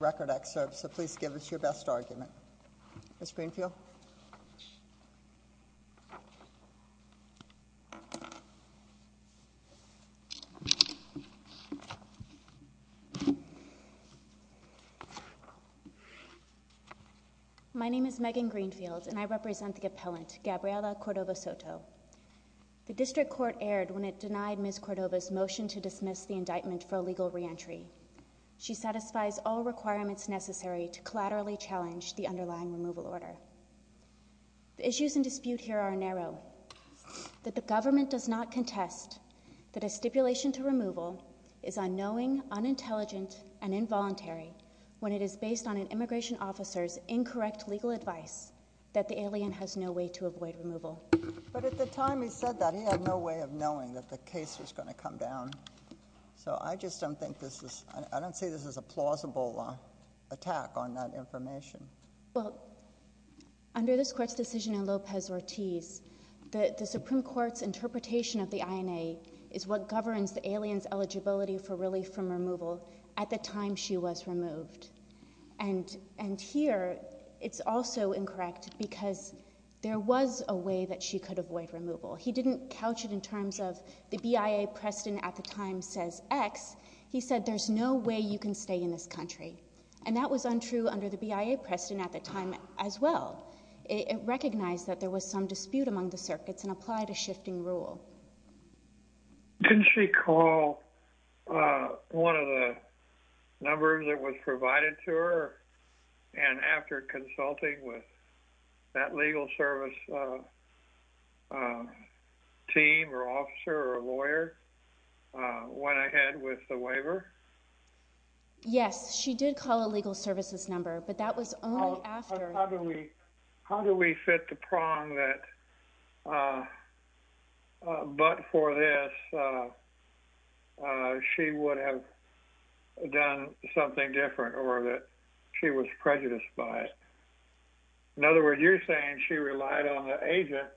record excerpt, so please give us your best argument. Ms. Greenfield? My name is Megan Greenfield and I represent the appellant, Gabriela Cordova-Soto. The District Court erred when it denied Ms. Cordova's motion to dismiss the indictment for illegal reentry. She satisfies all requirements necessary to collaterally challenge the underlying removal order. The issues in dispute here are narrow. That the government does not contest that a stipulation to removal is unknowing, unintelligent, and involuntary when it is based on an immigration officer's incorrect legal advice that the alien has no way to avoid removal. But at the time he said that, he had no way of knowing that the case was going to come down. So I just don't think this is, I don't see this as a plausible attack on that information. Under this Court's decision in Lopez-Ortiz, the Supreme Court's interpretation of the INA is what governs the alien's eligibility for relief from removal at the time she was removed. And here it's also incorrect because there was a way that she could avoid removal. He didn't couch it in terms of the BIA precedent at the time says X. He said there's no way you can stay in this country. And that was untrue under the BIA precedent at the time as well. It recognized that there was some dispute among the circuits and applied a shifting rule. Didn't she call one of the numbers that was provided to her and after consulting with that legal service team or officer or lawyer, went ahead with the waiver? Yes, she did call a legal services number, but that was only after... How do we fit the prong that but for this she would have done something different or that she was prejudiced by it? In other words, you're saying she relied on the agent?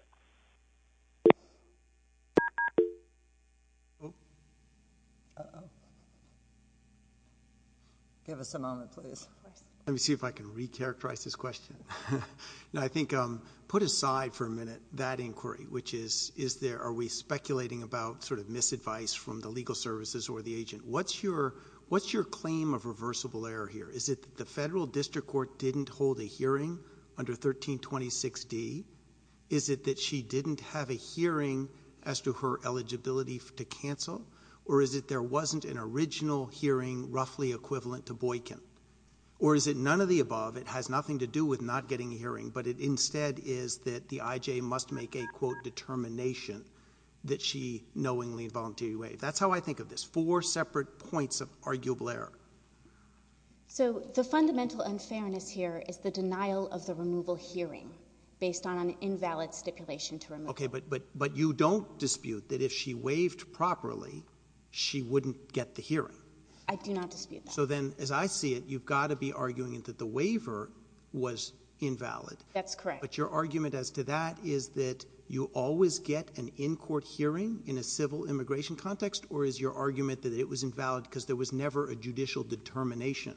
Give us a moment, please. Let me see if I can re-characterize this question. I think put aside for a minute that inquiry, which is, is there, are we speculating about sort of misadvice from the legal services or the agent? What's your claim of reversible error here? Is it that the federal district court didn't hold a hearing under 1326D? Is it that she didn't have a hearing as to her eligibility to cancel? Or is it there wasn't an original hearing roughly equivalent to Boykin? Or is it none of the above, it has nothing to do with not getting a hearing, but it instead is that the IJ must make a, quote, determination that she knowingly and voluntarily waived? That's how I think of this, four separate points of arguable error. So the fundamental unfairness here is the denial of the removal hearing based on an invalid stipulation to remove it. OK, but you don't dispute that if she waived properly, she wouldn't get the hearing? I do not dispute that. So then, as I see it, you've got to be arguing that the waiver was invalid. That's correct. But your argument as to that is that you always get an in-court hearing in a civil immigration context, or is your argument that it was invalid because there was never a judicial determination?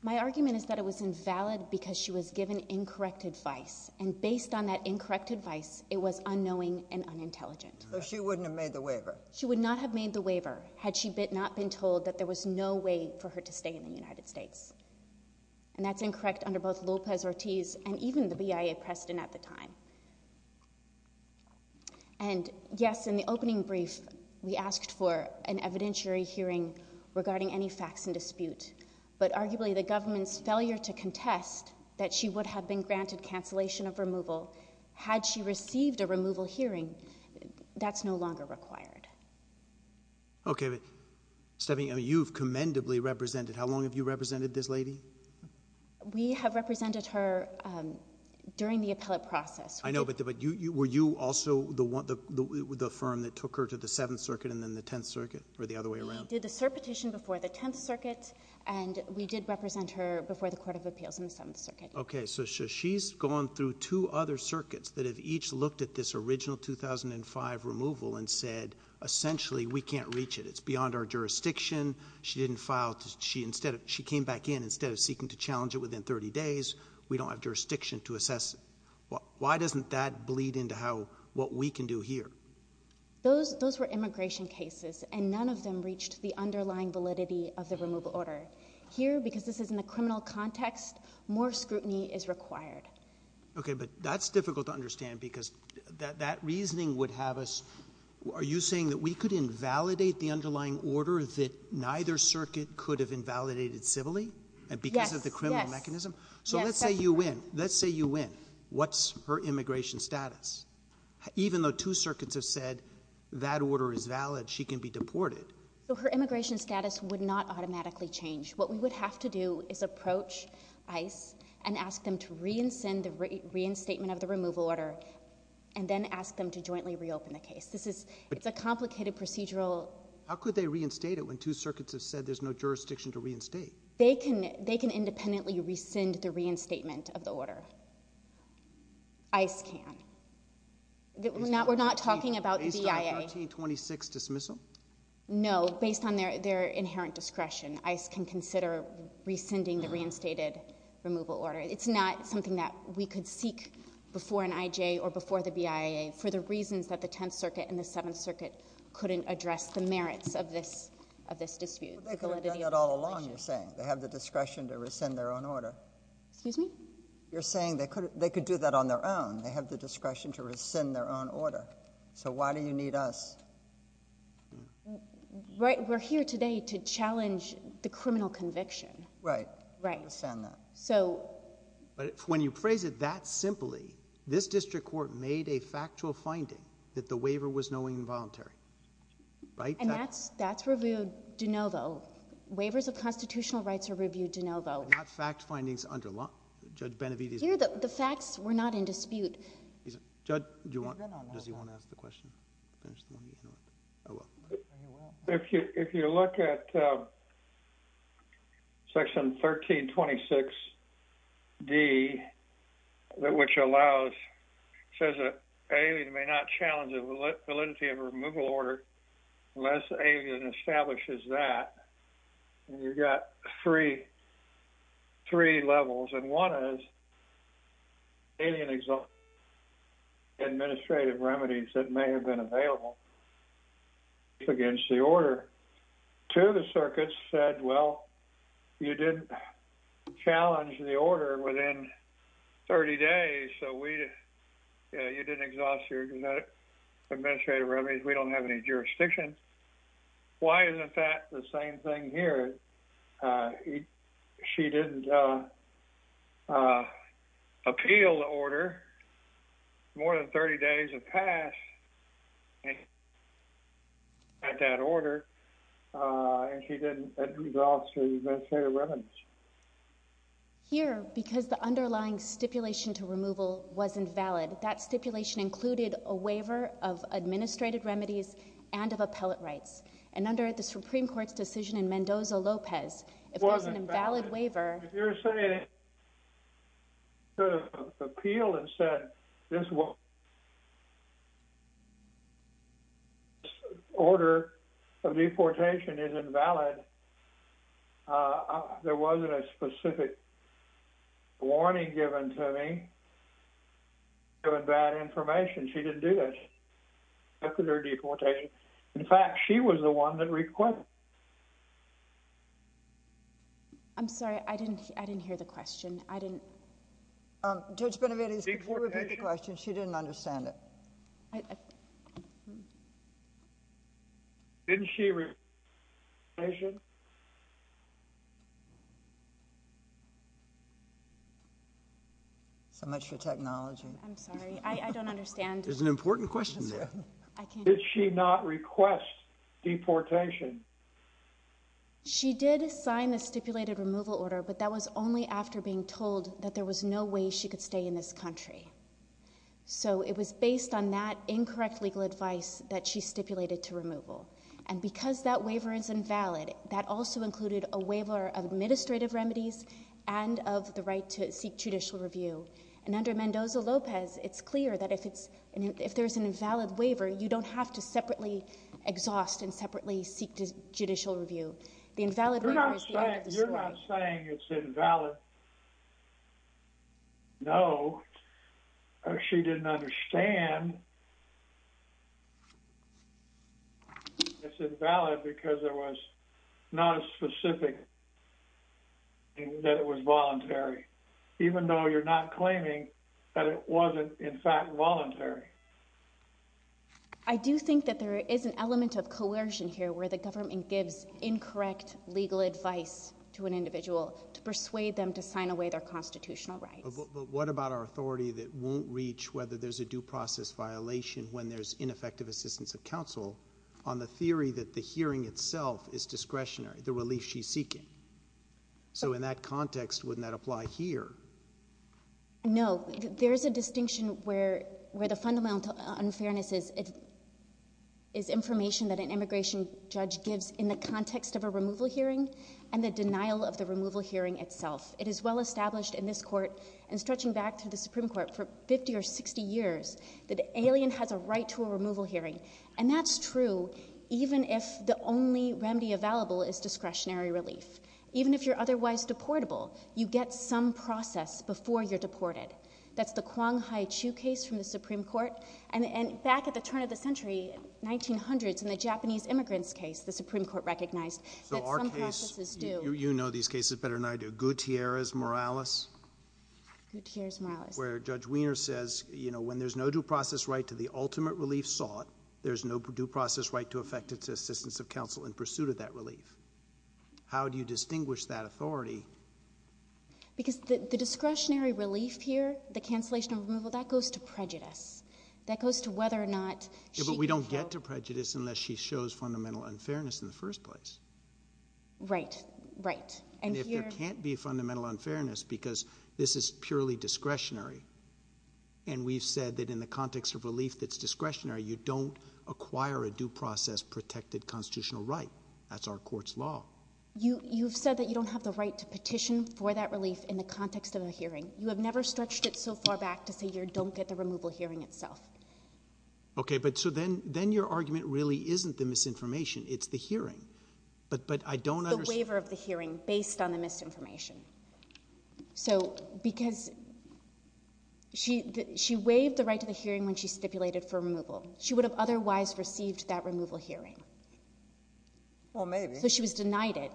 My argument is that it was invalid because she was given incorrect advice. And based on that incorrect advice, it was unknowing and unintelligent. So she wouldn't have made the waiver? She would not have made the waiver had she not been told that there was no way for her to stay in the United States. And that's incorrect under both Lopez-Ortiz and even the BIA precedent at the time. And yes, in the opening brief, we asked for an evidentiary hearing regarding any facts in dispute. But arguably, the government's failure to contest that she would have been granted cancellation of removal had she received a removal hearing, that's no longer required. OK, but Stephanie, you've commendably represented. How long have you represented this lady? We have represented her during the appellate process. I know, but were you also the firm that took her to the Seventh Circuit and then the Tenth Circuit or the other way around? We did the petition before the Tenth Circuit, and we did represent her before the Court of Appeals in the Seventh Circuit. OK, so she's gone through two other circuits that have each looked at this original 2005 removal and said, essentially, we can't reach it. It's beyond our jurisdiction. She didn't file. She instead, she came back in instead of seeking to challenge it within 30 days. We don't have jurisdiction to assess. Why doesn't that bleed into how what we can do here? Those those were immigration cases, and none of them reached the underlying validity of the removal order here because this is in the criminal context. More scrutiny is required. OK, but that's difficult to understand because that reasoning would have us. Are you saying that we could invalidate the underlying order that neither circuit could have invalidated civilly and because of the criminal mechanism? So let's say you win. Let's say you win. What's her immigration status? Even though two circuits have said that order is valid, she can be deported. So her immigration status would not automatically change. What we would have to do is approach ICE and ask them to reincend the reinstatement of the removal order and then ask them to jointly reopen the case. This is it's a complicated procedural. How could they reinstate it when two circuits have said there's no jurisdiction to reinstate? They can they can independently rescind the reinstatement of the order. ICE can. We're not we're not talking about the BIA. Based on the 1926 dismissal? No, based on their their inherent discretion, ICE can consider rescinding the reinstated removal order. It's not something that we could seek before an IJ or before the BIA for the reasons that the Tenth Circuit and the Seventh Circuit couldn't address the merits of this of this dispute. They could have done that all along, you're saying. They have the discretion to rescind their own order. Excuse me? You're saying they could they could do that on their own. They have the discretion to rescind their own order. So why do you need us? Right. We're here today to challenge the criminal conviction. Right. Right. Rescind that. So. But when you phrase it that simply, this district court made a factual finding that the waiver was knowing involuntary, right? And that's that's reviewed de novo. Waivers of constitutional rights are reviewed de novo. Not fact findings under law. Judge Benavides. Here, the facts were not in dispute. Judge, does he want to ask the question? If you look at Section 1326d, which allows, says that an alien may not challenge the validity of a removal order unless the alien establishes that. And you've got three, three levels. And one is alien exhaustive administrative remedies that may have been available against the order. Two, the circuits said, well, you didn't challenge the order within 30 days. So we didn't exhaust your administrative remedies. We don't have any jurisdiction. Why isn't that the same thing here? She didn't appeal the order. More than 30 days have passed at that order. And she didn't exhaust the administrative remedies. Here, because the underlying stipulation to removal wasn't valid, that stipulation included a waiver of administrative remedies and of appellate rights. And under the Supreme Court's decision in Mendoza-Lopez, it was an invalid waiver. If you're saying, sort of appealed and said, this order of deportation is invalid, there wasn't a specific warning given to me, given bad information. She didn't do this. After their deportation. In fact, she was the one that requested. I'm sorry. I didn't, I didn't hear the question. I didn't. Judge Benavides, she didn't understand it. Didn't she? So much for technology. I'm sorry. I don't understand. There's an important question there. Did she not request deportation? She did sign the stipulated removal order, but that was only after being told that there was no way she could stay in this country. So it was based on that incorrect legal advice that she stipulated to removal. And because that waiver is invalid, that also included a waiver of administrative remedies and of the right to seek judicial review. And under Mendoza-Lopez, it's clear that if there's an invalid waiver, you don't have to separately exhaust and separately seek judicial review. You're not saying it's invalid. No, she didn't understand. It's invalid because there was not a specific that it was voluntary, even though you're not claiming that it wasn't, in fact, voluntary. I do think that there is an element of coercion here, where the government gives incorrect legal advice to an individual to persuade them to sign away their constitutional rights. But what about our authority that won't reach whether there's a due process violation when there's ineffective assistance of counsel on the theory that the hearing itself is discretionary, the relief she's seeking? So in that context, wouldn't that apply here? No, there is a distinction where the fundamental unfairness is information that an immigration judge gives in the context of a removal hearing and the denial of the removal hearing itself. It is well established in this court and stretching back to the Supreme Court for 50 or 60 years that an alien has a right to a removal hearing. And that's true even if the only remedy available is discretionary relief. Even if you're otherwise deportable, you get some process before you're deported. That's the Kwong-Hi-Chu case from the Supreme Court. And back at the turn of the century, 1900s, in the Japanese immigrants case, the Supreme Court recognized that some processes do. You know these cases better than I do. Gutierrez-Morales? Gutierrez-Morales. Where Judge Wiener says, you know, when there's no due process right to the ultimate relief sought, there's no due process right to affect its assistance of counsel in pursuit of that relief. How do you distinguish that authority? Because the discretionary relief here, the cancellation of removal, that goes to prejudice. That goes to whether or not she can feel... Yeah, but we don't get to prejudice unless she shows fundamental unfairness in the first place. Right, right. And if there can't be fundamental unfairness because this is purely discretionary and we've said that in the context of relief that's discretionary, you don't acquire a due process protected constitutional right. That's our court's law. You've said that you don't have the right to petition for that relief in the context of a hearing. You have never stretched it so far back to say you don't get the removal hearing itself. Okay, but so then your argument really isn't the misinformation, it's the hearing. But I don't understand... The waiver of the hearing based on the misinformation. So because she waived the right to the hearing when she stipulated for removal. She would have otherwise received that removal hearing. Well, maybe. So she was denied it,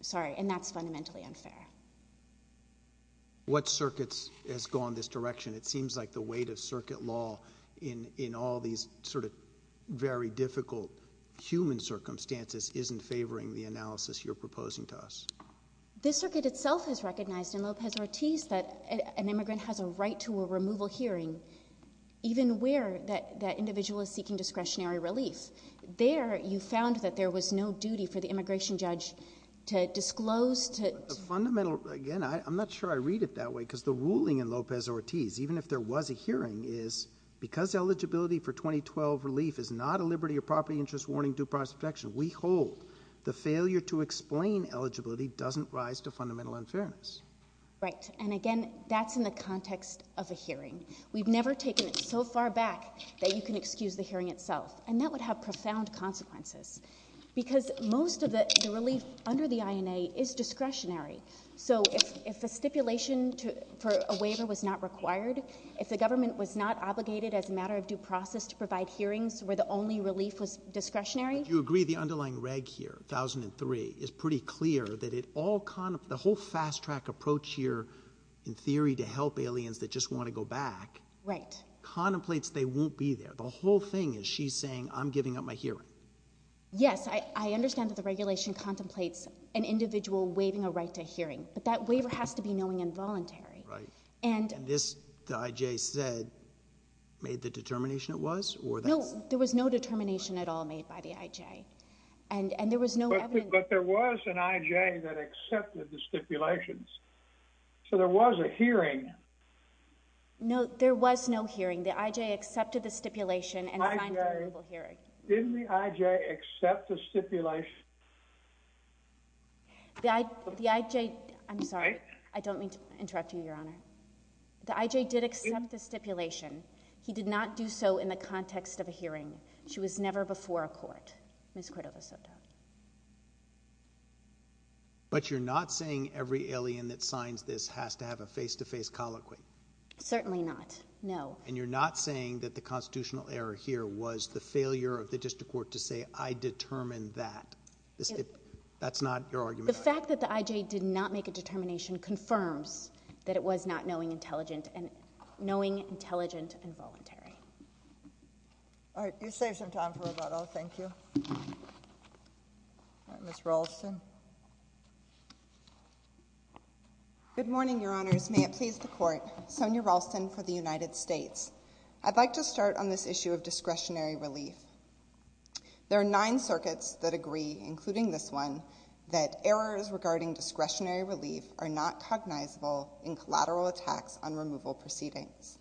sorry. And that's fundamentally unfair. What circuits has gone this direction? It seems like the weight of circuit law in all these sort of very difficult human circumstances isn't favoring the analysis you're proposing to us. The circuit itself has recognized in Lopez-Ortiz that an immigrant has a right to a removal hearing even where that individual is seeking discretionary relief. There, you found that there was no duty for the immigration judge to disclose, to... Fundamental, again, I'm not sure I read it that way because the ruling in Lopez-Ortiz, even if there was a hearing, is because eligibility for 2012 relief is not a liberty or property interest warning, due process protection. We hold the failure to explain eligibility doesn't rise to fundamental unfairness. Right, and again, that's in the context of a hearing. We've never taken it so far back that you can excuse the hearing itself. And that would have profound consequences because most of the relief under the INA is discretionary. So if a stipulation for a waiver was not required, if the government was not obligated as a matter of due process to provide hearings where the only relief was discretionary... Do you agree the underlying reg here, 1003, is pretty clear that it all... The whole fast track approach here in theory to help aliens that just want to go back... Right. Contemplates they won't be there. The whole thing is she's saying, I'm giving up my hearing. Yes, I understand that the regulation contemplates an individual waiving a right to hearing, but that waiver has to be knowing and voluntary. Right. And this, the IJ said, made the determination it was or... No, there was no determination at all made by the IJ. And there was no evidence... But there was an IJ that accepted the stipulations. So there was a hearing. No, there was no hearing. The IJ accepted the stipulation and signed the verbal hearing. Didn't the IJ accept the stipulation? The IJ... I'm sorry. I don't mean to interrupt you, Your Honor. The IJ did accept the stipulation. He did not do so in the context of a hearing. She was never before a court, Ms. Cordova-Soto. But you're not saying every alien that signs this has to have a face-to-face colloquy? Certainly not, no. You're not saying that the constitutional error here was the failure of the district court to say, I determined that. That's not your argument? The fact that the IJ did not make a determination confirms that it was not knowing, intelligent and voluntary. All right, you saved some time for rebuttal. Thank you. Ms. Ralston. Good morning, Your Honors. May it please the Court. Sonia Ralston for the United States. I'd like to start on this issue of discretionary relief. There are nine circuits that agree, including this one, that errors regarding discretionary relief are not cognizable in collateral attacks on removal proceedings.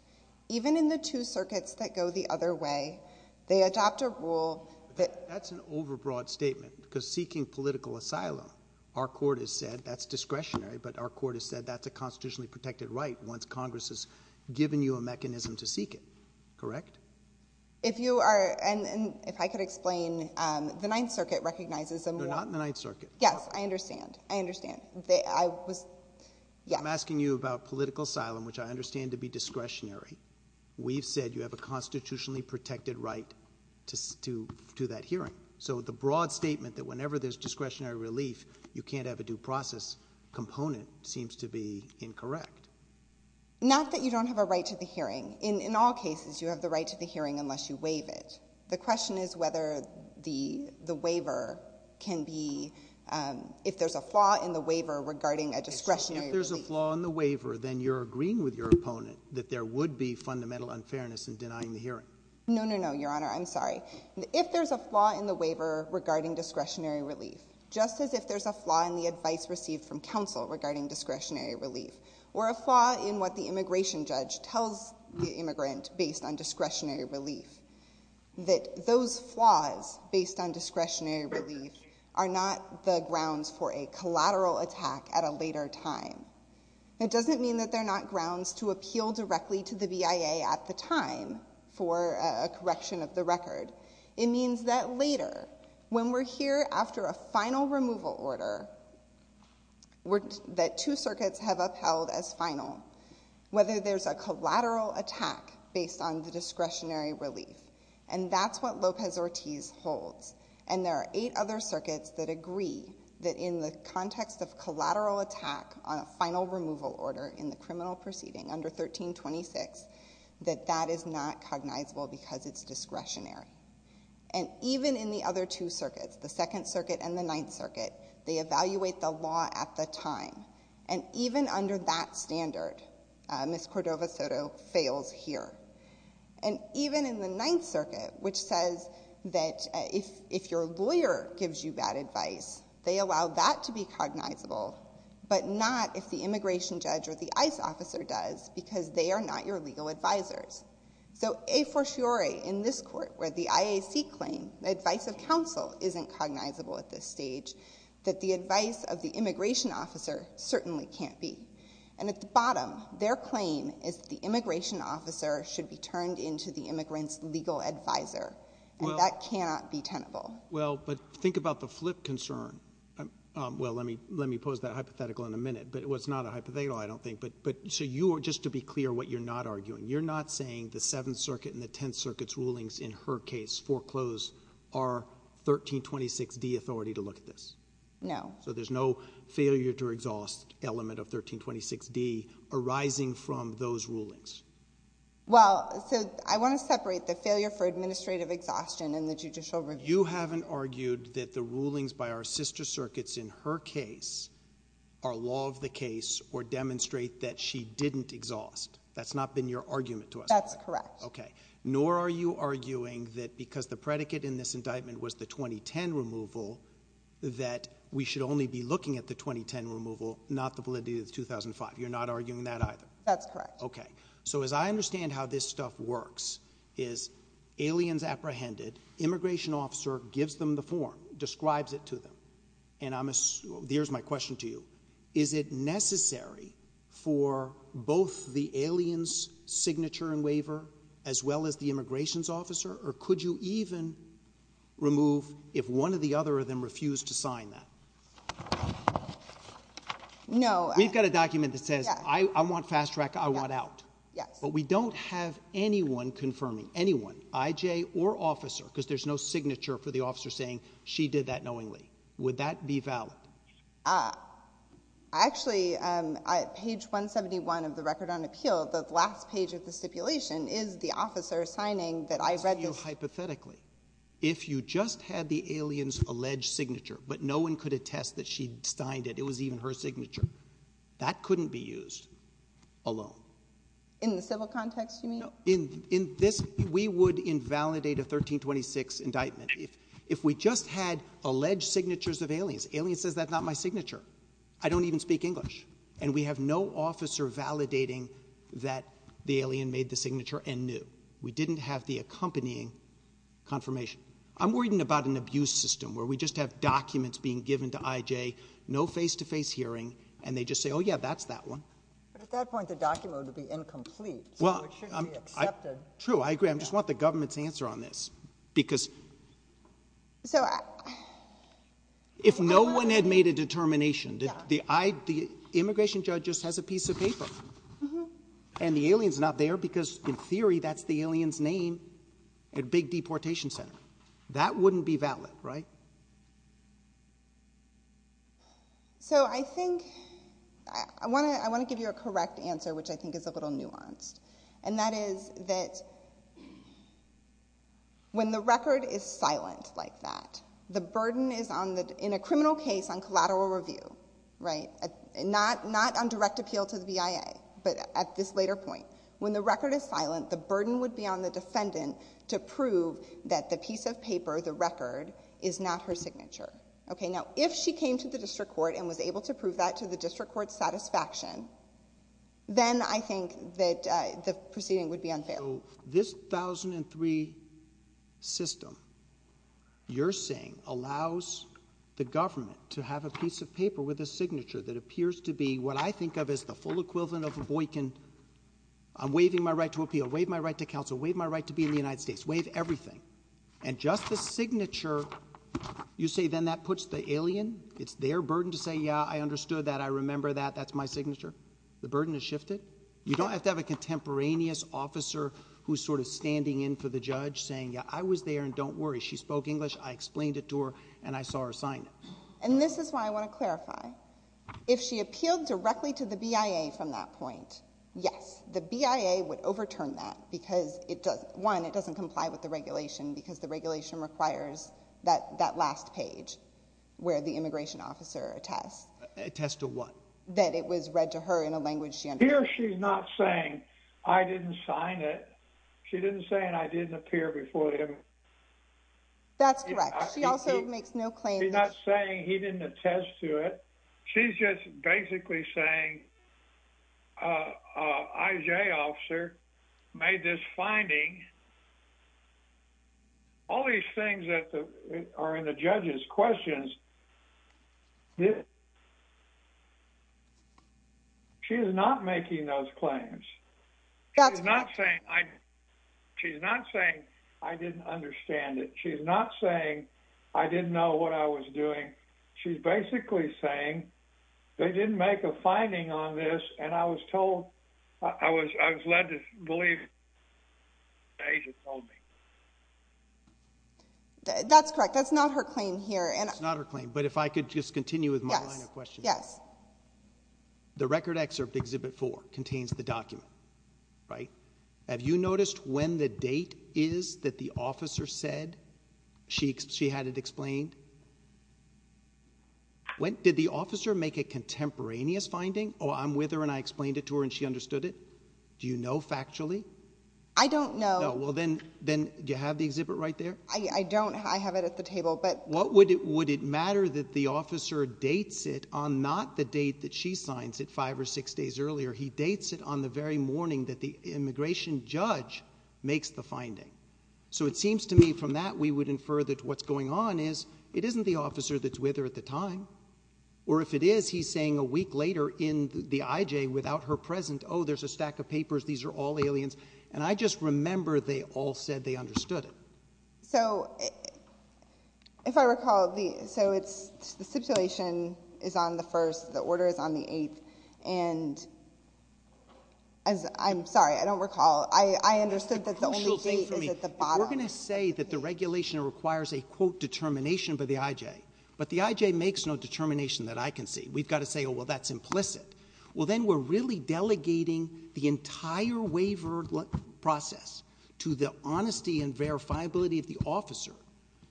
Even in the two circuits that go the other way, they adopt a rule that... That's an overbroad statement because seeking political asylum, our court has said that's discretionary, but our court has said that's a constitutionally protected right once Congress has given you a mechanism to seek it. Correct? If you are... And if I could explain, the Ninth Circuit recognizes them. They're not in the Ninth Circuit. Yes, I understand. I understand. I was... Yeah. I'm asking you about political asylum, which I understand to be discretionary. We've said you have a constitutionally protected right to do that hearing. So the broad statement that whenever there's discretionary relief, you can't have a due process component seems to be incorrect. Not that you don't have a right to the hearing. In all cases, you have the right to the hearing unless you waive it. The question is whether the waiver can be... If there's a flaw in the waiver regarding a discretionary relief... If there's a flaw in the waiver, then you're agreeing with your opponent that there would be fundamental unfairness in denying the hearing. No, no, no, Your Honor. I'm sorry. If there's a flaw in the waiver regarding discretionary relief, just as if there's a flaw in the advice received from counsel regarding discretionary relief, or a flaw in what the immigration judge tells the immigrant based on discretionary relief, that those flaws based on discretionary relief are not the grounds for a collateral attack at a later time. It doesn't mean that they're not grounds to appeal directly to the BIA at the time for a correction of the record. It means that later, when we're here after a final removal order that two circuits have upheld as final, whether there's a collateral attack based on the discretionary relief, and that's what Lopez-Ortiz holds, and there are eight other circuits that agree that in the context of collateral attack on a final removal order in the criminal proceeding under 1326, that that is not cognizable because it's discretionary. And even in the other two circuits, the Second Circuit and the Ninth Circuit, they evaluate the law at the time. And even under that standard, Ms. Cordova-Soto fails here. And even in the Ninth Circuit, which says that if your lawyer gives you bad advice, they allow that to be cognizable, but not if the immigration judge or the ICE officer does because they are not your legal advisors. So a fortiori in this court, where the IAC claim, the advice of counsel isn't cognizable at this stage, that the advice of the immigration officer certainly can't be. And at the bottom, their claim is that the immigration officer should be turned into the immigrant's legal advisor. And that cannot be tenable. Well, but think about the flip concern. Well, let me pose that hypothetical in a minute, but it was not a hypothetical, I don't think, but just to be clear what you're not arguing, you're not saying the Seventh Circuit and the Tenth Circuit's rulings in her case foreclose our 1326d authority to look at this? No. So there's no failure to exhaust element of 1326d arising from those rulings? Well, so I want to separate the failure for administrative exhaustion and the judicial review. You haven't argued that the rulings by our sister circuits in her case are law of the case or demonstrate that she didn't exhaust. That's not been your argument to us. That's correct. Nor are you arguing that because the predicate in this indictment was the 2010 removal, that we should only be looking at the 2010 removal, not the validity of 2005. You're not arguing that either? That's correct. Okay. So as I understand how this stuff works, is aliens apprehended, immigration officer gives them the form, describes it to them. And here's my question to you. Is it necessary for both the aliens signature and waiver, as well as the immigration's officer, or could you even remove if one of the other of them refused to sign that? No. We've got a document that says, I want fast track. I want out. Yes. But we don't have anyone confirming, anyone, IJ or officer, because there's no signature for the officer saying she did that knowingly. Would that be valid? Actually, page 171 of the record on appeal, the last page of the stipulation is the officer signing that I've read this. Hypothetically, if you just had the alien's alleged signature, but no one could attest that she signed it, it was even her signature, that couldn't be used alone. In the civil context, you mean? In this, we would invalidate a 1326 indictment. If we just had alleged signatures of aliens, alien says that's not my signature. I don't even speak English. And we have no officer validating that the alien made the signature and knew. We didn't have the accompanying confirmation. I'm worried about an abuse system where we just have documents being given to IJ, no face-to-face hearing, and they just say, oh, yeah, that's that one. But at that point, the document would be incomplete. So it shouldn't be accepted. True. I agree. I just want the government's answer on this. Because if no one had made a determination, the immigration judge just has a piece of paper. And the alien's not there because in theory, that's the alien's name at Big Deportation Center. That wouldn't be valid, right? So I think I want to give you a correct answer, which I think is a little nuanced. And that is that when the record is silent like that, the burden is on the in a criminal case on collateral review, right, not on direct appeal to the BIA. But at this later point, when the record is silent, the burden would be on the defendant to prove that the piece of paper, the record, is not her signature. OK, now, if she came to the district court and was able to prove that to the district court's satisfaction, then I think that the proceeding would be unfair. So this 1003 system, you're saying, allows the government to have a piece of paper with a signature that appears to be what I think of as the full equivalent of a Boykin. I'm waiving my right to appeal, waive my right to counsel, waive my right to be in the United States, waive everything. And just the signature, you say, then that puts the alien. It's their burden to say, yeah, I understood that. I remember that. That's my signature. The burden is shifted. You don't have to have a contemporaneous officer who's sort of standing in for the judge saying, yeah, I was there and don't worry. She spoke English. I explained it to her and I saw her sign it. And this is why I want to clarify. If she appealed directly to the BIA from that point, yes, the BIA would overturn that because it does. One, it doesn't comply with the regulation because the regulation requires that that last page where the immigration officer attests attests to what? That it was read to her in a language she understands. Here she's not saying I didn't sign it. She didn't say and I didn't appear before him. That's correct. She also makes no claim. She's not saying he didn't attest to it. She's just basically saying. IJ officer made this finding. All these things that are in the judges questions. She is not making those claims. That's not saying I. She's not saying I didn't understand it. She's not saying I didn't know what I was doing. She's basically saying they didn't make a finding on this and I was told I was. I was led to believe. They just told me. That's correct. That's not her claim here and it's not her claim. But if I could just continue with my question, yes. The record excerpt exhibit for contains the document. Right. Have you noticed when the date is that the officer said she she had it explained? When did the officer make a contemporaneous finding? Oh, I'm with her and I explained it to her and she understood it. Do you know factually? I don't know. Well, then, then do you have the exhibit right there? I don't. I have it at the table. But what would it would it matter that the officer dates it on not the date that she signs it five or six days earlier? He dates it on the very morning that the immigration judge makes the finding. So it seems to me from that we would infer that what's going on is it isn't the officer that's with her at the time. Or if it is, he's saying a week later in the IJ without her present. Oh, there's a stack of papers. These are all aliens. And I just remember they all said they understood it. So if I recall the so it's the stipulation is on the first. The order is on the eighth. And as I'm sorry, I don't recall. I understood that the only thing is at the bottom. We're going to say that the regulation requires a quote determination by the IJ. But the IJ makes no determination that I can see. We've got to say, oh, well, that's implicit. Well, then we're really delegating the entire waiver process to the honesty and verifiability of the officer.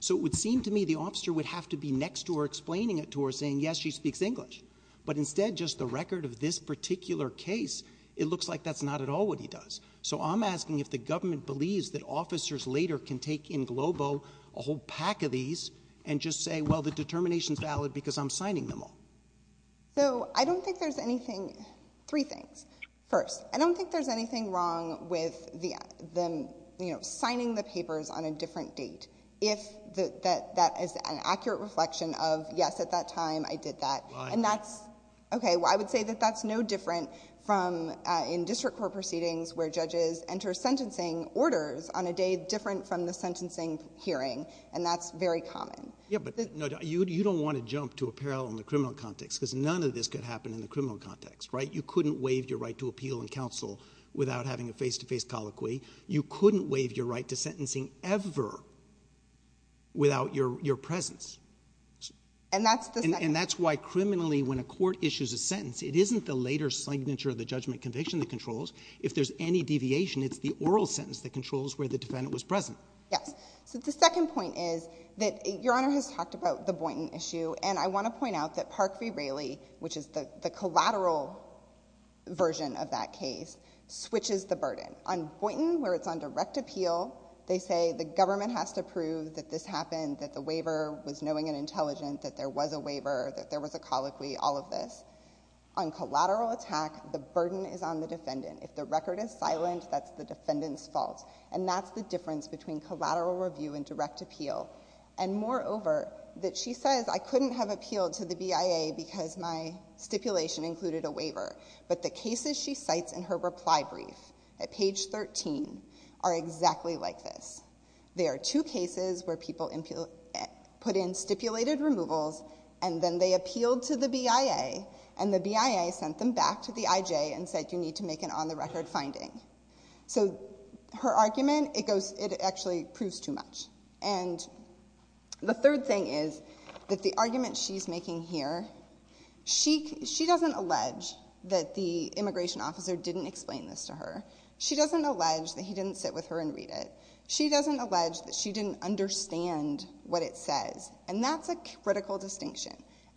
So it would seem to me the officer would have to be next to her explaining it to her saying, yes, she speaks English. But instead, just the record of this particular case, it looks like that's not at all what he does. So I'm asking if the government believes that officers later can take in Globo a whole pack of these and just say, well, the determination is valid because I'm signing them all. So I don't think there's anything. Three things. First, I don't think there's anything wrong with them, you know, signing the papers on a different date. If that is an accurate reflection of, yes, at that time, I did that. And that's OK. Well, I would say that that's no different from in district court proceedings where judges enter sentencing orders on a day different from the sentencing hearing. And that's very common. Yeah, but you don't want to jump to a parallel in the criminal context because none of this could happen in the criminal context. Right. You couldn't waive your right to appeal in counsel without having a face to face colloquy. You couldn't waive your right to sentencing ever. Without your presence. And that's the thing. And that's why criminally, when a court issues a sentence, it isn't the later signature of the judgment conviction that controls. If there's any deviation, it's the oral sentence that controls where the defendant was present. Yes. So the second point is that Your Honor has talked about the Boynton issue. And I want to point out that Park v. Raley, which is the collateral version of that case, switches the burden. On Boynton, where it's on direct appeal, they say the government has to prove that this happened, that the waiver was knowing and intelligent, that there was a waiver, that there was a colloquy, all of this. On collateral attack, the burden is on the defendant. If the record is silent, that's the defendant's fault. And that's the difference between collateral review and direct appeal. And moreover, that she says, I couldn't have appealed to the BIA because my stipulation included a waiver. But the cases she cites in her reply brief at page 13 are exactly like this. There are two cases where people put in stipulated removals and then they appealed to the BIA and the BIA sent them back to the IJ and said, you need to make an on-the-record finding. So her argument, it actually proves too much. And the third thing is that the argument she's making here, she doesn't allege that the immigration officer didn't explain this to her. She doesn't allege that he didn't sit with her and read it. She doesn't allege that she didn't understand what it says. And that's a critical distinction.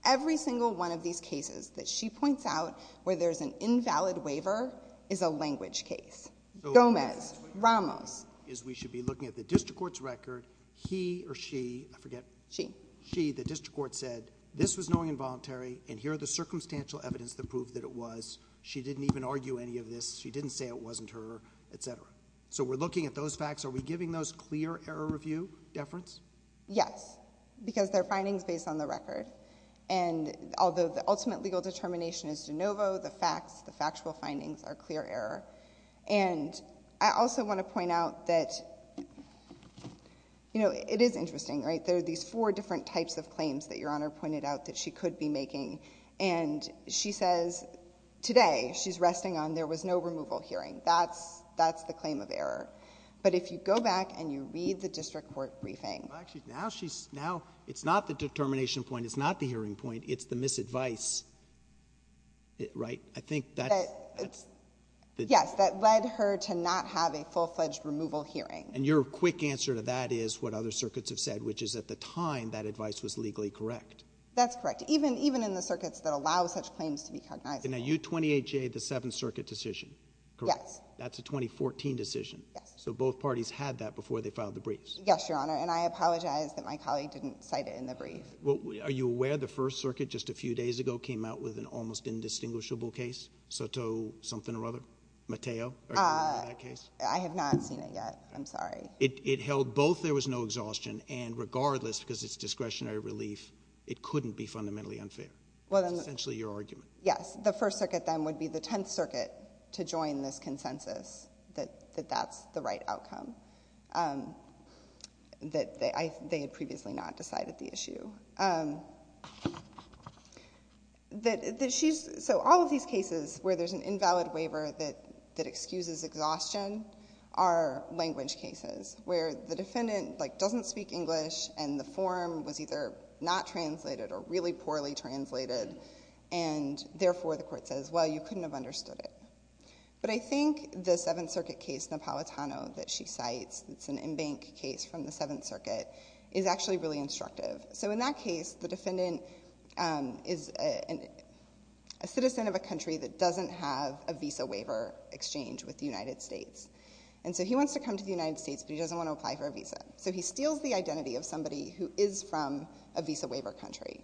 Every single one of these cases that she points out where there's an invalid waiver is a language case. Gomez, Ramos. Is we should be looking at the district court's record. He or she, I forget. She. She, the district court said this was knowing involuntary and here are the circumstantial evidence that proved that it was. She didn't even argue any of this. She didn't say it wasn't her, etc. So we're looking at those facts. Are we giving those clear error review deference? Yes, because they're findings based on the record. And although the ultimate legal determination is de novo, the facts, the factual findings are clear error. And I also want to point out that, you know, it is interesting, right? There are these four different types of claims that Your Honor pointed out that she could be making. And she says today she's resting on there was no removal hearing. That's that's the claim of error. But if you go back and you read the district court briefing. Well, actually, now she's now it's not the determination point. It's not the hearing point. It's the misadvice. Right. I think that. Yes, that led her to not have a full fledged removal hearing. And your quick answer to that is what other circuits have said, which is at the time that advice was legally correct. That's correct. Even even in the circuits that allow such claims to be recognized. Now, you 28 Jay, the Seventh Circuit decision. Correct. That's a 2014 decision. So both parties had that before they filed the briefs. Yes, Your Honor. And I apologize that my colleague didn't cite it in the brief. Well, are you aware of the First Circuit just a few days ago came out with an almost indistinguishable case? Soto something or other Mateo. I have not seen it yet. I'm sorry. It held both. There was no exhaustion. And regardless, because it's discretionary relief, it couldn't be fundamentally unfair. Well, essentially your argument. Yes. The First Circuit then would be the Tenth Circuit to join this consensus that that's the right outcome. That they had previously not decided the issue. That she's so all of these cases where there's an invalid waiver that excuses exhaustion are language cases where the defendant doesn't speak English and the form was either not translated or really poorly translated. And therefore, the court says, well, you couldn't have understood it. But I think the Seventh Circuit case, Napolitano that she cites, it's an in-bank case from the Seventh Circuit is actually really instructive. So in that case, the defendant is a citizen of a country that doesn't have a visa waiver exchange with the United States. And so he wants to come to the United States, but he doesn't want to apply for a visa. So he steals the identity of somebody who is from a visa waiver country.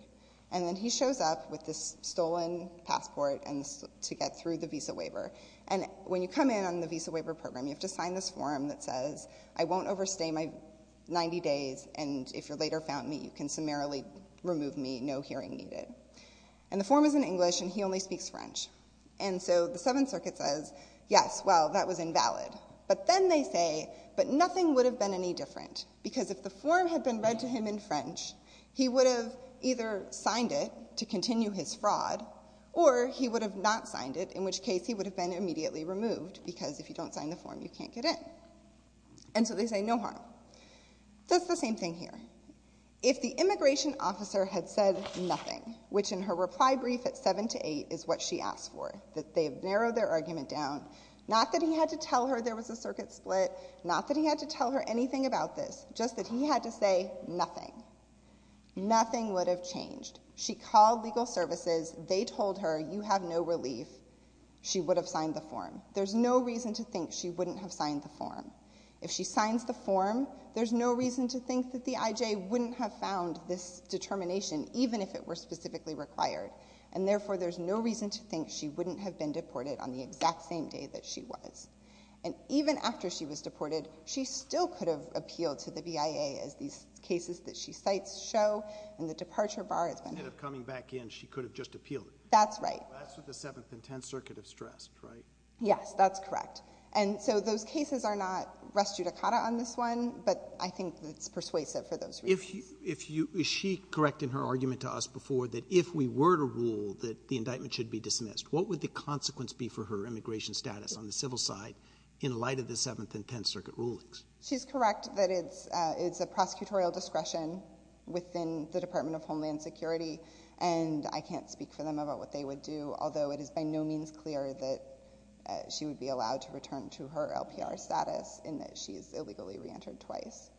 And then he shows up with this stolen passport and to get through the visa waiver. And when you come in on the visa waiver program, you have to sign this form that says, I won't overstay my 90 days. And if you're later found me, you can summarily remove me. No hearing needed. And the form is in English and he only speaks French. And so the Seventh Circuit says, yes, well, that was invalid. But then they say, but nothing would have been any different because if the form had been read to him in French, he would have either signed it to continue his fraud or he would have not signed it, in which case he would have been immediately removed because if you don't sign the form, you can't get in. And so they say no harm. That's the same thing here. If the immigration officer had said nothing, which in her reply brief at seven to eight is what she asked for, that they have narrowed their argument down, not that he had to tell her there was a circuit split, not that he had to tell her anything about this, just that he had to say nothing. Nothing would have changed. She called legal services. They told her you have no relief. She would have signed the form. There's no reason to think she wouldn't have signed the form. If she signs the form, there's no reason to think that the IJ wouldn't have found this determination, even if it were specifically required. And therefore, there's no reason to think she wouldn't have been deported on the exact same day that she was. And even after she was deported, she still could have appealed to the BIA as these cases that she cites show and the departure bar has been... Instead of coming back in, she could have just appealed it. That's right. That's what the Seventh and Tenth Circuit have stressed, right? Yes, that's correct. And so those cases are not res judicata on this one, but I think that's persuasive for those reasons. Is she correct in her argument to us before that if we were to rule that the indictment should be dismissed, what would the consequence be for her immigration status on the civil side in light of the Seventh and Tenth Circuit rulings? She's correct that it's a prosecutorial discretion within the Department of Homeland Security. And I can't speak for them about what they would do, although it is by no means clear that she would be allowed to return to her LPR status in that she is illegally reentered twice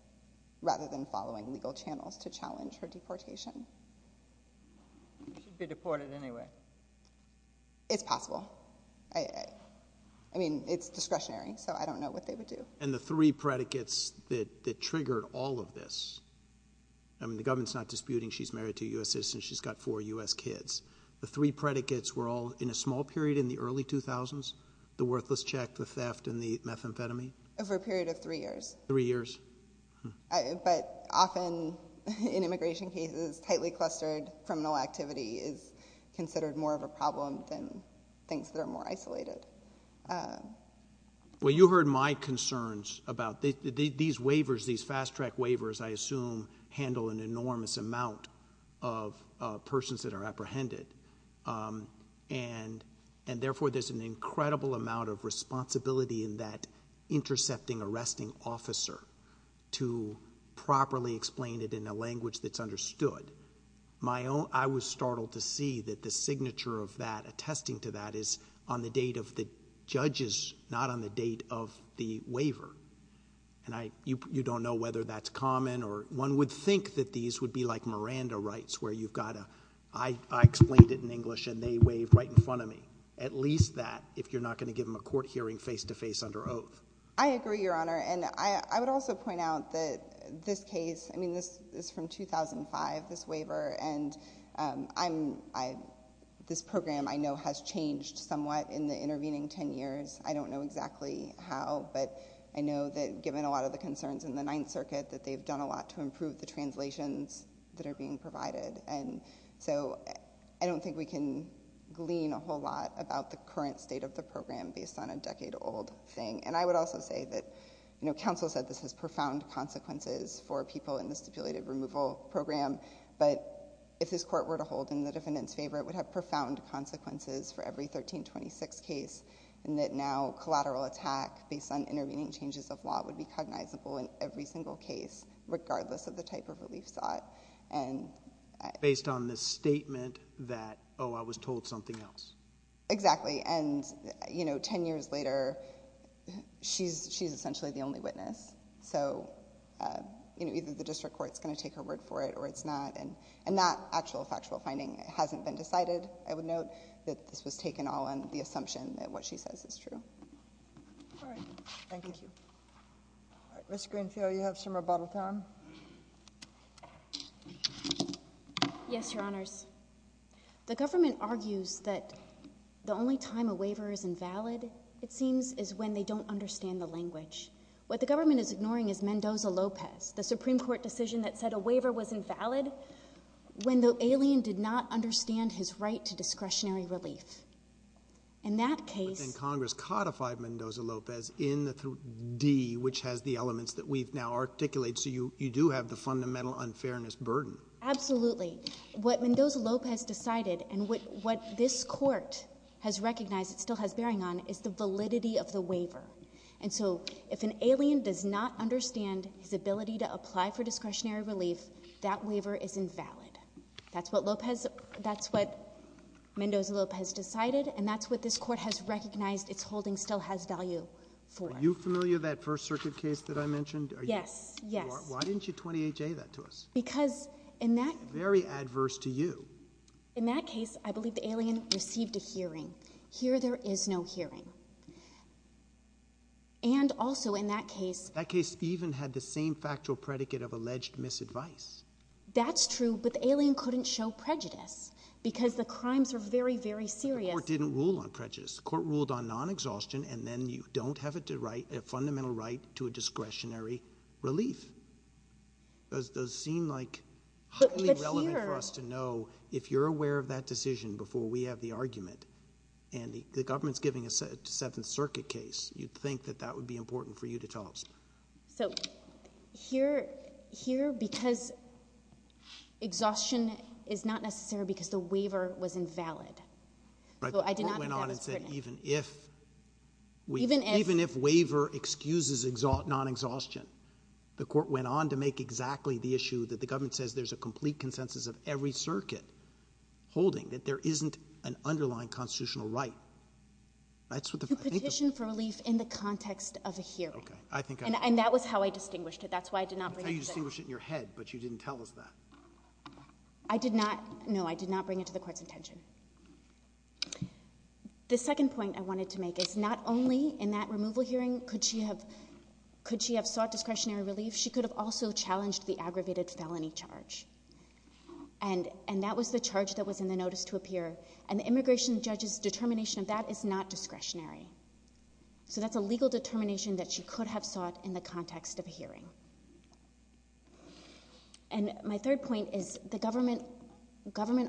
rather than following legal channels to challenge her deportation. She'd be deported anyway. It's possible. I mean, it's discretionary, so I don't know what they would do. And the three predicates that triggered all of this, I mean, the government's not disputing she's married to a U.S. citizen, she's got four U.S. kids. The three predicates were all in a small period in the early 2000s, the worthless check, the theft and the methamphetamine. Over a period of three years. Three years. But often in immigration cases, tightly clustered criminal activity is considered more of a problem than things that are more isolated. Well, you heard my concerns about these waivers, these fast track waivers, I assume handle an enormous amount of persons that are apprehended. And and therefore, there's an incredible amount of responsibility in that intercepting arresting officer to properly explain it in a language that's understood. My own. I was startled to see that the signature of that attesting to that is on the date of the judges, not on the date of the waiver. And I you don't know whether that's common or one would think that these would be like Miranda rights where you've got to. I explained it in English and they waved right in front of me. At least that if you're not going to give him a court hearing face to face under oath. I agree, Your Honor. And I would also point out that this case, I mean, this is from 2005. This waiver and I'm I. This program, I know, has changed somewhat in the intervening 10 years. I don't know exactly how, but I know that given a lot of the concerns in the Ninth Circuit that they've done a lot to improve the translations that are being provided. And so I don't think we can glean a whole lot about the current state of the program based on a decade old thing. And I would also say that, you know, counsel said this has profound consequences for people in the stipulated removal program. But if this court were to hold in the defendant's favor, it would have profound consequences for every 1326 case. And that now collateral attack based on intervening changes of law would be cognizable in every single case, regardless of the type of relief sought. And based on this statement that, oh, I was told something else. Exactly. And, you know, 10 years later, she's she's essentially the only witness. So, you know, either the district court is going to take her word for it or it's not. And and that actual factual finding hasn't been decided. I would note that this was taken all on the assumption that what she says is true. All right. Thank you. Mr. Greenfield, you have some rebuttal time. Yes, Your Honors. The government argues that the only time a waiver is invalid, it seems, is when they don't understand the language. What the government is ignoring is Mendoza-Lopez, the Supreme Court decision that said a waiver was invalid when the alien did not understand his right to discretionary relief. In that case, and Congress codified Mendoza-Lopez in the D, which has the elements that we've now articulate. So you you do have the fundamental unfairness burden. Absolutely. What Mendoza-Lopez decided and what this court has recognized it still has bearing on is the validity of the waiver. And so if an alien does not understand his ability to apply for discretionary relief, that waiver is invalid. That's what Lopez, that's what Mendoza-Lopez decided and that's what this court has recognized it's holding still has value for. Are you familiar that First Circuit case that I mentioned? Yes, yes. Why didn't you 28-J that to us? Because in that... Very adverse to you. In that case, I believe the alien received a hearing. Here there is no hearing. And also in that case... That case even had the same factual predicate of alleged misadvice. That's true, but the alien couldn't show prejudice because the crimes are very, very serious. The court didn't rule on prejudice. The court ruled on non-exhaustion and then you don't have it to write a fundamental right to a discretionary relief. Does seem like highly relevant for us to know if you're aware of that decision before we have the argument and the government's giving a Seventh Circuit case, you'd think that that would be important for you to tell us. So here because exhaustion is not necessary because the waiver was invalid. Right, the court went on and said even if waiver excuses non-exhaustion, the court went on to make exactly the issue that the government says there's a complete consensus of every circuit holding that there isn't an underlying constitutional right. That's what the... You petitioned for relief in the context of a hearing. And that was how I distinguished it. That's why I did not... You distinguished it in your head, but you didn't tell us that. I did not. No, I did not bring it to the court's intention. The second point I wanted to make is not only in that removal hearing could she have sought discretionary relief, she could have also challenged the aggravated felony charge. And that was the charge that was in the notice to appear. And the immigration judge's determination of that is not discretionary. So that's a legal determination that she could have sought in the context of a hearing. And my third point is the government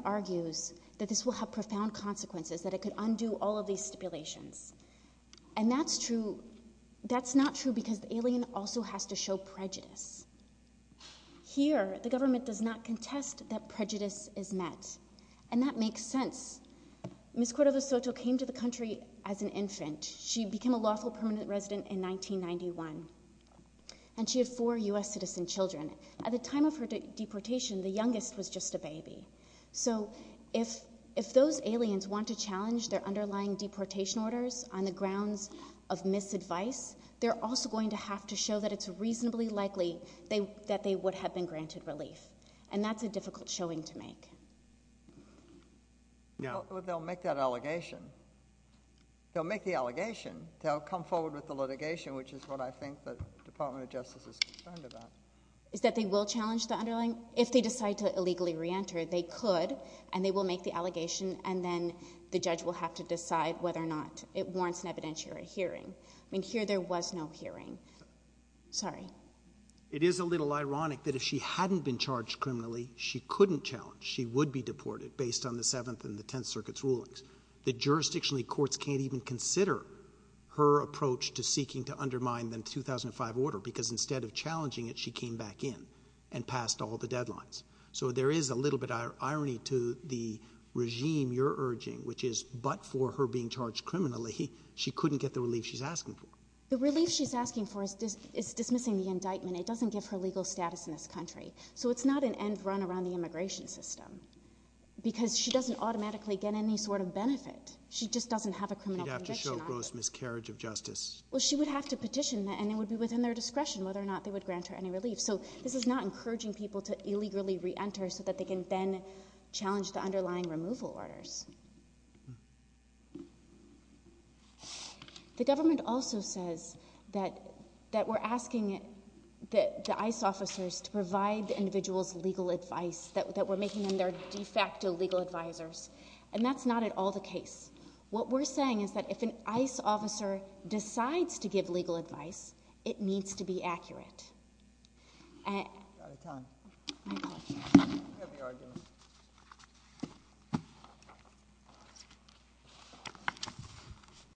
argues that this will have profound consequences, that it could undo all of these stipulations. And that's true. That's not true because the alien also has to show prejudice. Here, the government does not contest that prejudice is met. And that makes sense. Ms. Cuero de Soto came to the country as an infant. She became a lawful permanent resident in 1991. And she had four U.S. citizen children. At the time of her deportation, the youngest was just a baby. So if those aliens want to challenge their underlying deportation orders on the grounds of misadvice, they're also going to have to show that it's reasonably likely that they would have been granted relief. And that's a difficult showing to make. They'll make that allegation. They'll make the allegation. They'll come forward with the litigation, which is what I think the Department of Justice is concerned about. Is that they will challenge the underlying? If they decide to illegally reenter, they could. And they will make the allegation. And then the judge will have to decide whether or not it warrants an evidentiary hearing. I mean, here there was no hearing. Sorry. It is a little ironic that if she hadn't been charged criminally, she couldn't challenge she would be deported based on the Seventh and the Tenth Circuit's rulings. That jurisdictionally, courts can't even consider her approach to seeking to undermine the 2005 order, because instead of challenging it, she came back in and passed all the deadlines. So there is a little bit of irony to the regime you're urging, which is but for her being charged criminally, she couldn't get the relief she's asking for. The relief she's asking for is dismissing the indictment. It doesn't give her legal status in this country. around the immigration system, because she doesn't automatically get any sort of benefit. She just doesn't have a criminal conviction. To show gross miscarriage of justice. Well, she would have to petition that and it would be within their discretion whether or not they would grant her any relief. So this is not encouraging people to illegally reenter so that they can then challenge the underlying removal orders. The government also says that we're asking the ICE officers to provide the individual's legal advice, that we're making them their de facto legal advisors. And that's not at all the case. What we're saying is that if an ICE officer decides to give legal advice, it needs to be accurate.